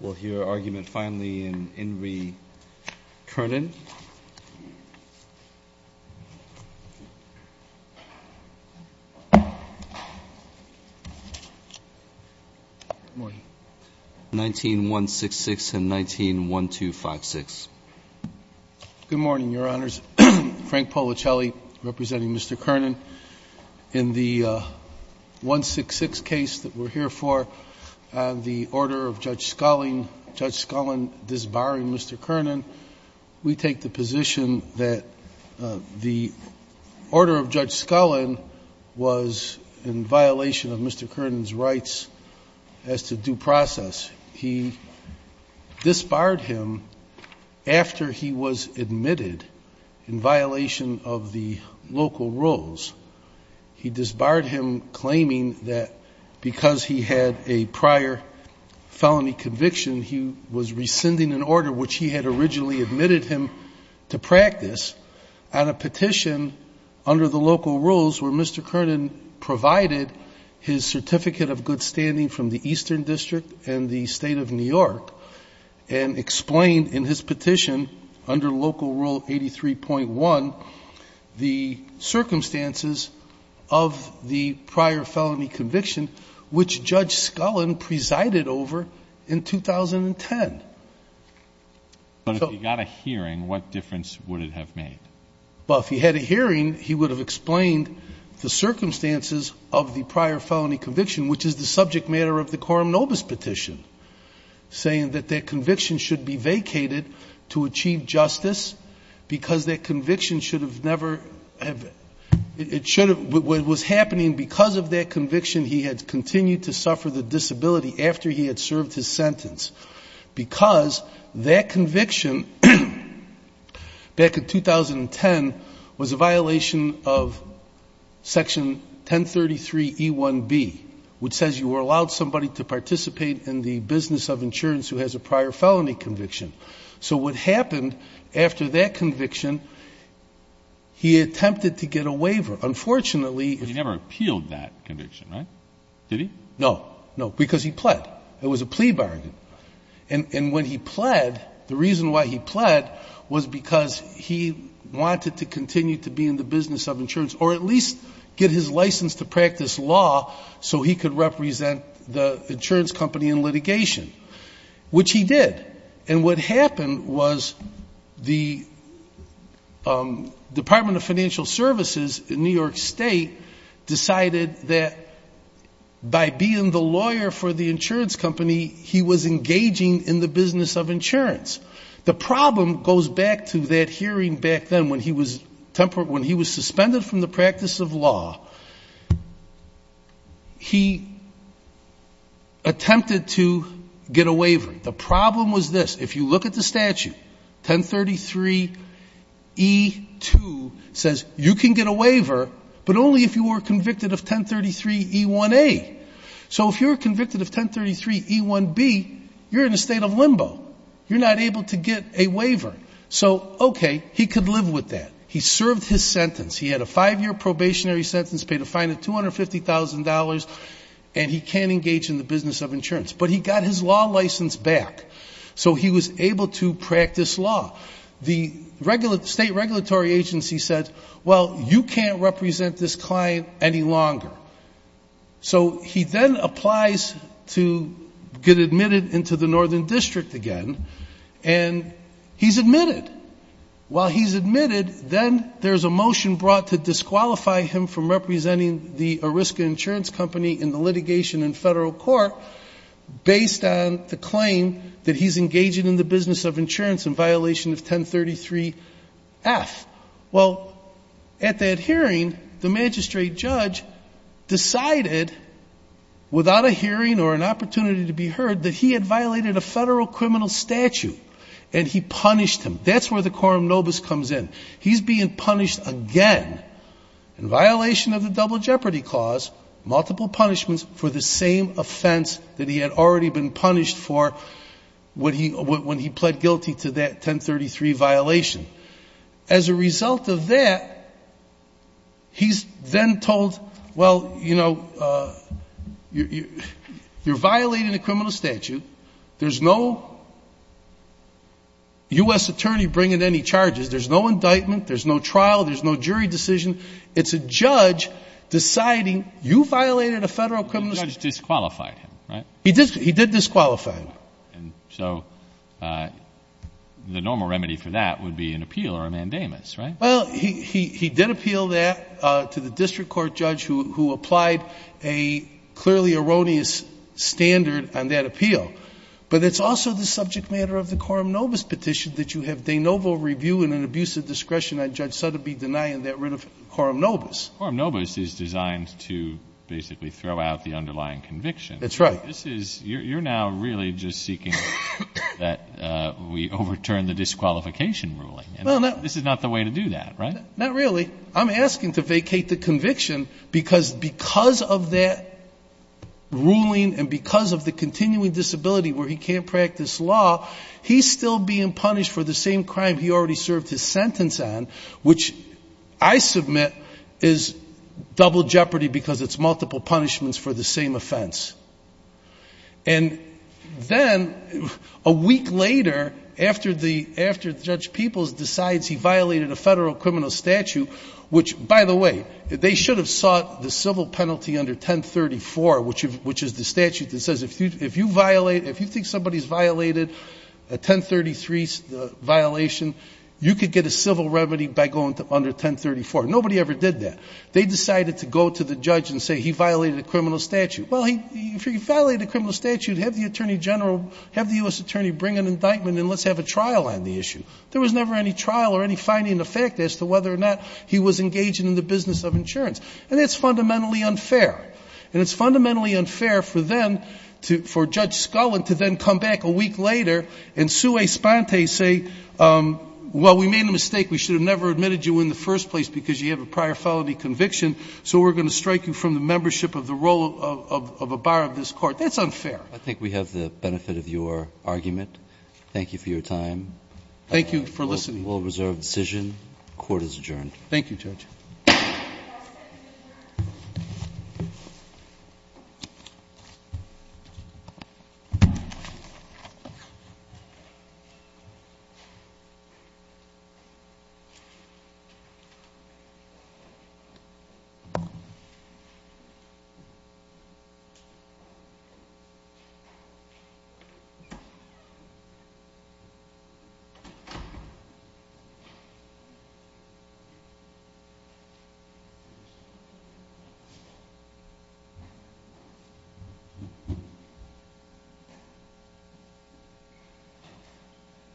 Good morning, Your Honors. Frank Polichelli, representing Mr. Kernan. In the 166 case that we're here for, the order of Judge Scullin disbarring Mr. Kernan, we take the position that the order of Judge Scullin was in violation of Mr. Kernan's rights as to due process. He disbarred him after he was admitted in violation of the local rules. He disbarred him claiming that because he had a prior felony conviction, he was rescinding an order which he had originally admitted him to practice on a petition under the local rules where Mr. Kernan provided his certificate of good standing from the Eastern District and the State of New York and explained in his petition under Local Rule 83.1 the circumstances of the prior felony conviction which Judge Scullin presided over in 2010. But if he got a hearing, what difference would it have made? Well, if he had a hearing, he would have explained the circumstances of the prior felony conviction, which is the subject matter of the Coram Nobis petition, saying that that conviction should be vacated to achieve justice because that conviction should have never, it should have, what was happening because of that conviction, he had continued to suffer the disability after he had served his sentence. Because that conviction back in 2010 was a violation of Section 1033 E1B, which says you were allowed somebody to participate in the business of insurance who has a prior felony conviction. So what happened after that conviction, he attempted to get a waiver. Unfortunately... He never appealed that conviction, right? Did he? No. No. Because he pled. It was a plea bargain. And when he pled, the reason why he pled was because he wanted to continue to be in the business of insurance or at least get his license to practice law so he could represent the insurance company in litigation, which he did. And what happened was the Department of Financial Services in New York State decided that by being the lawyer for the insurance company, he was engaging in the business of insurance. The problem goes back to that hearing back then when he was suspended from the practice of law. He attempted to get a waiver. The problem was this. If you look at the statute, 1033 E2 says you can get a waiver, but only if you were convicted of 1033 E1A. So if you're convicted of 1033 E1B, you're in a state of limbo. You're not able to get a waiver. So okay, he could live with that. He served his sentence. He had a five-year probationary sentence, paid a fine of $250,000, and he can't engage in the business of insurance. But he got his law license back, so he was able to practice law. The state regulatory agency said, well, you can't represent this client any longer. So he then applies to get admitted into the Northern District again, and he's admitted. While he's admitted, then there's a motion brought to disqualify him from representing the Ariska Insurance Company in the litigation in federal court based on the claim that he's engaging in the business of insurance in violation of 1033 F. Well, at that hearing, the magistrate judge decided without a hearing or an opportunity to be heard that he had violated a federal criminal statute, and he punished him. That's where the quorum nobis comes in. He's being punished again in violation of the Double Jeopardy Clause, multiple punishments for the same offense that he had already been punished for when he pled guilty to that 1033 violation. As a result of that, he's then told, well, you know, you're violating a criminal statute. There's no U.S. attorney bringing any charges. There's no indictment. There's no trial. There's no jury decision. It's a judge deciding you violated a federal criminal statute. The judge disqualified him, right? He did disqualify him. So the normal remedy for that would be an appeal or a mandamus, right? Well, he did appeal that to the district court judge who applied a clearly erroneous standard on that appeal. But it's also the subject matter of the quorum nobis petition that you have de novo review and an abuse of discretion on Judge Sotheby denying that writ of quorum nobis. Quorum nobis is designed to basically throw out the underlying conviction. That's right. This is you're now really just seeking that we overturn the disqualification ruling. Well, no. This is not the way to do that, right? Not really. I'm asking to vacate the conviction because of that ruling and because of the continuing disability where he can't practice law, he's still being punished for the same crime he already served his sentence on, which I submit is double jeopardy because it's multiple punishments for the same offense. And then a week later, after the after Judge Peoples decides he violated a federal criminal statute, which, by the way, they should have sought the civil penalty under 1034, which which is the statute that says if you violate, if you think somebody's violated a 1033 violation, you could get a civil remedy by going to under 1034. Nobody ever did that. They decided to go to the judge and say he violated a criminal statute. Well, if he violated a criminal statute, have the attorney general, have the U.S. attorney bring an indictment and let's have a trial on the issue. There was never any trial or any finding of fact as to whether or not he was engaging in the business of insurance. And that's fundamentally unfair. And it's fundamentally unfair for them to, for Judge Scullin to then come back a week later and sue Esponte, say, well, we made a mistake. We should have never admitted you in the first place because you have a prior felony conviction. So we're going to strike you from the membership of the role of a bar of this court. That's unfair. I think we have the benefit of your argument. Thank you for your time. Thank you for listening. Will reserve decision. Court is adjourned. Thank you, Judge.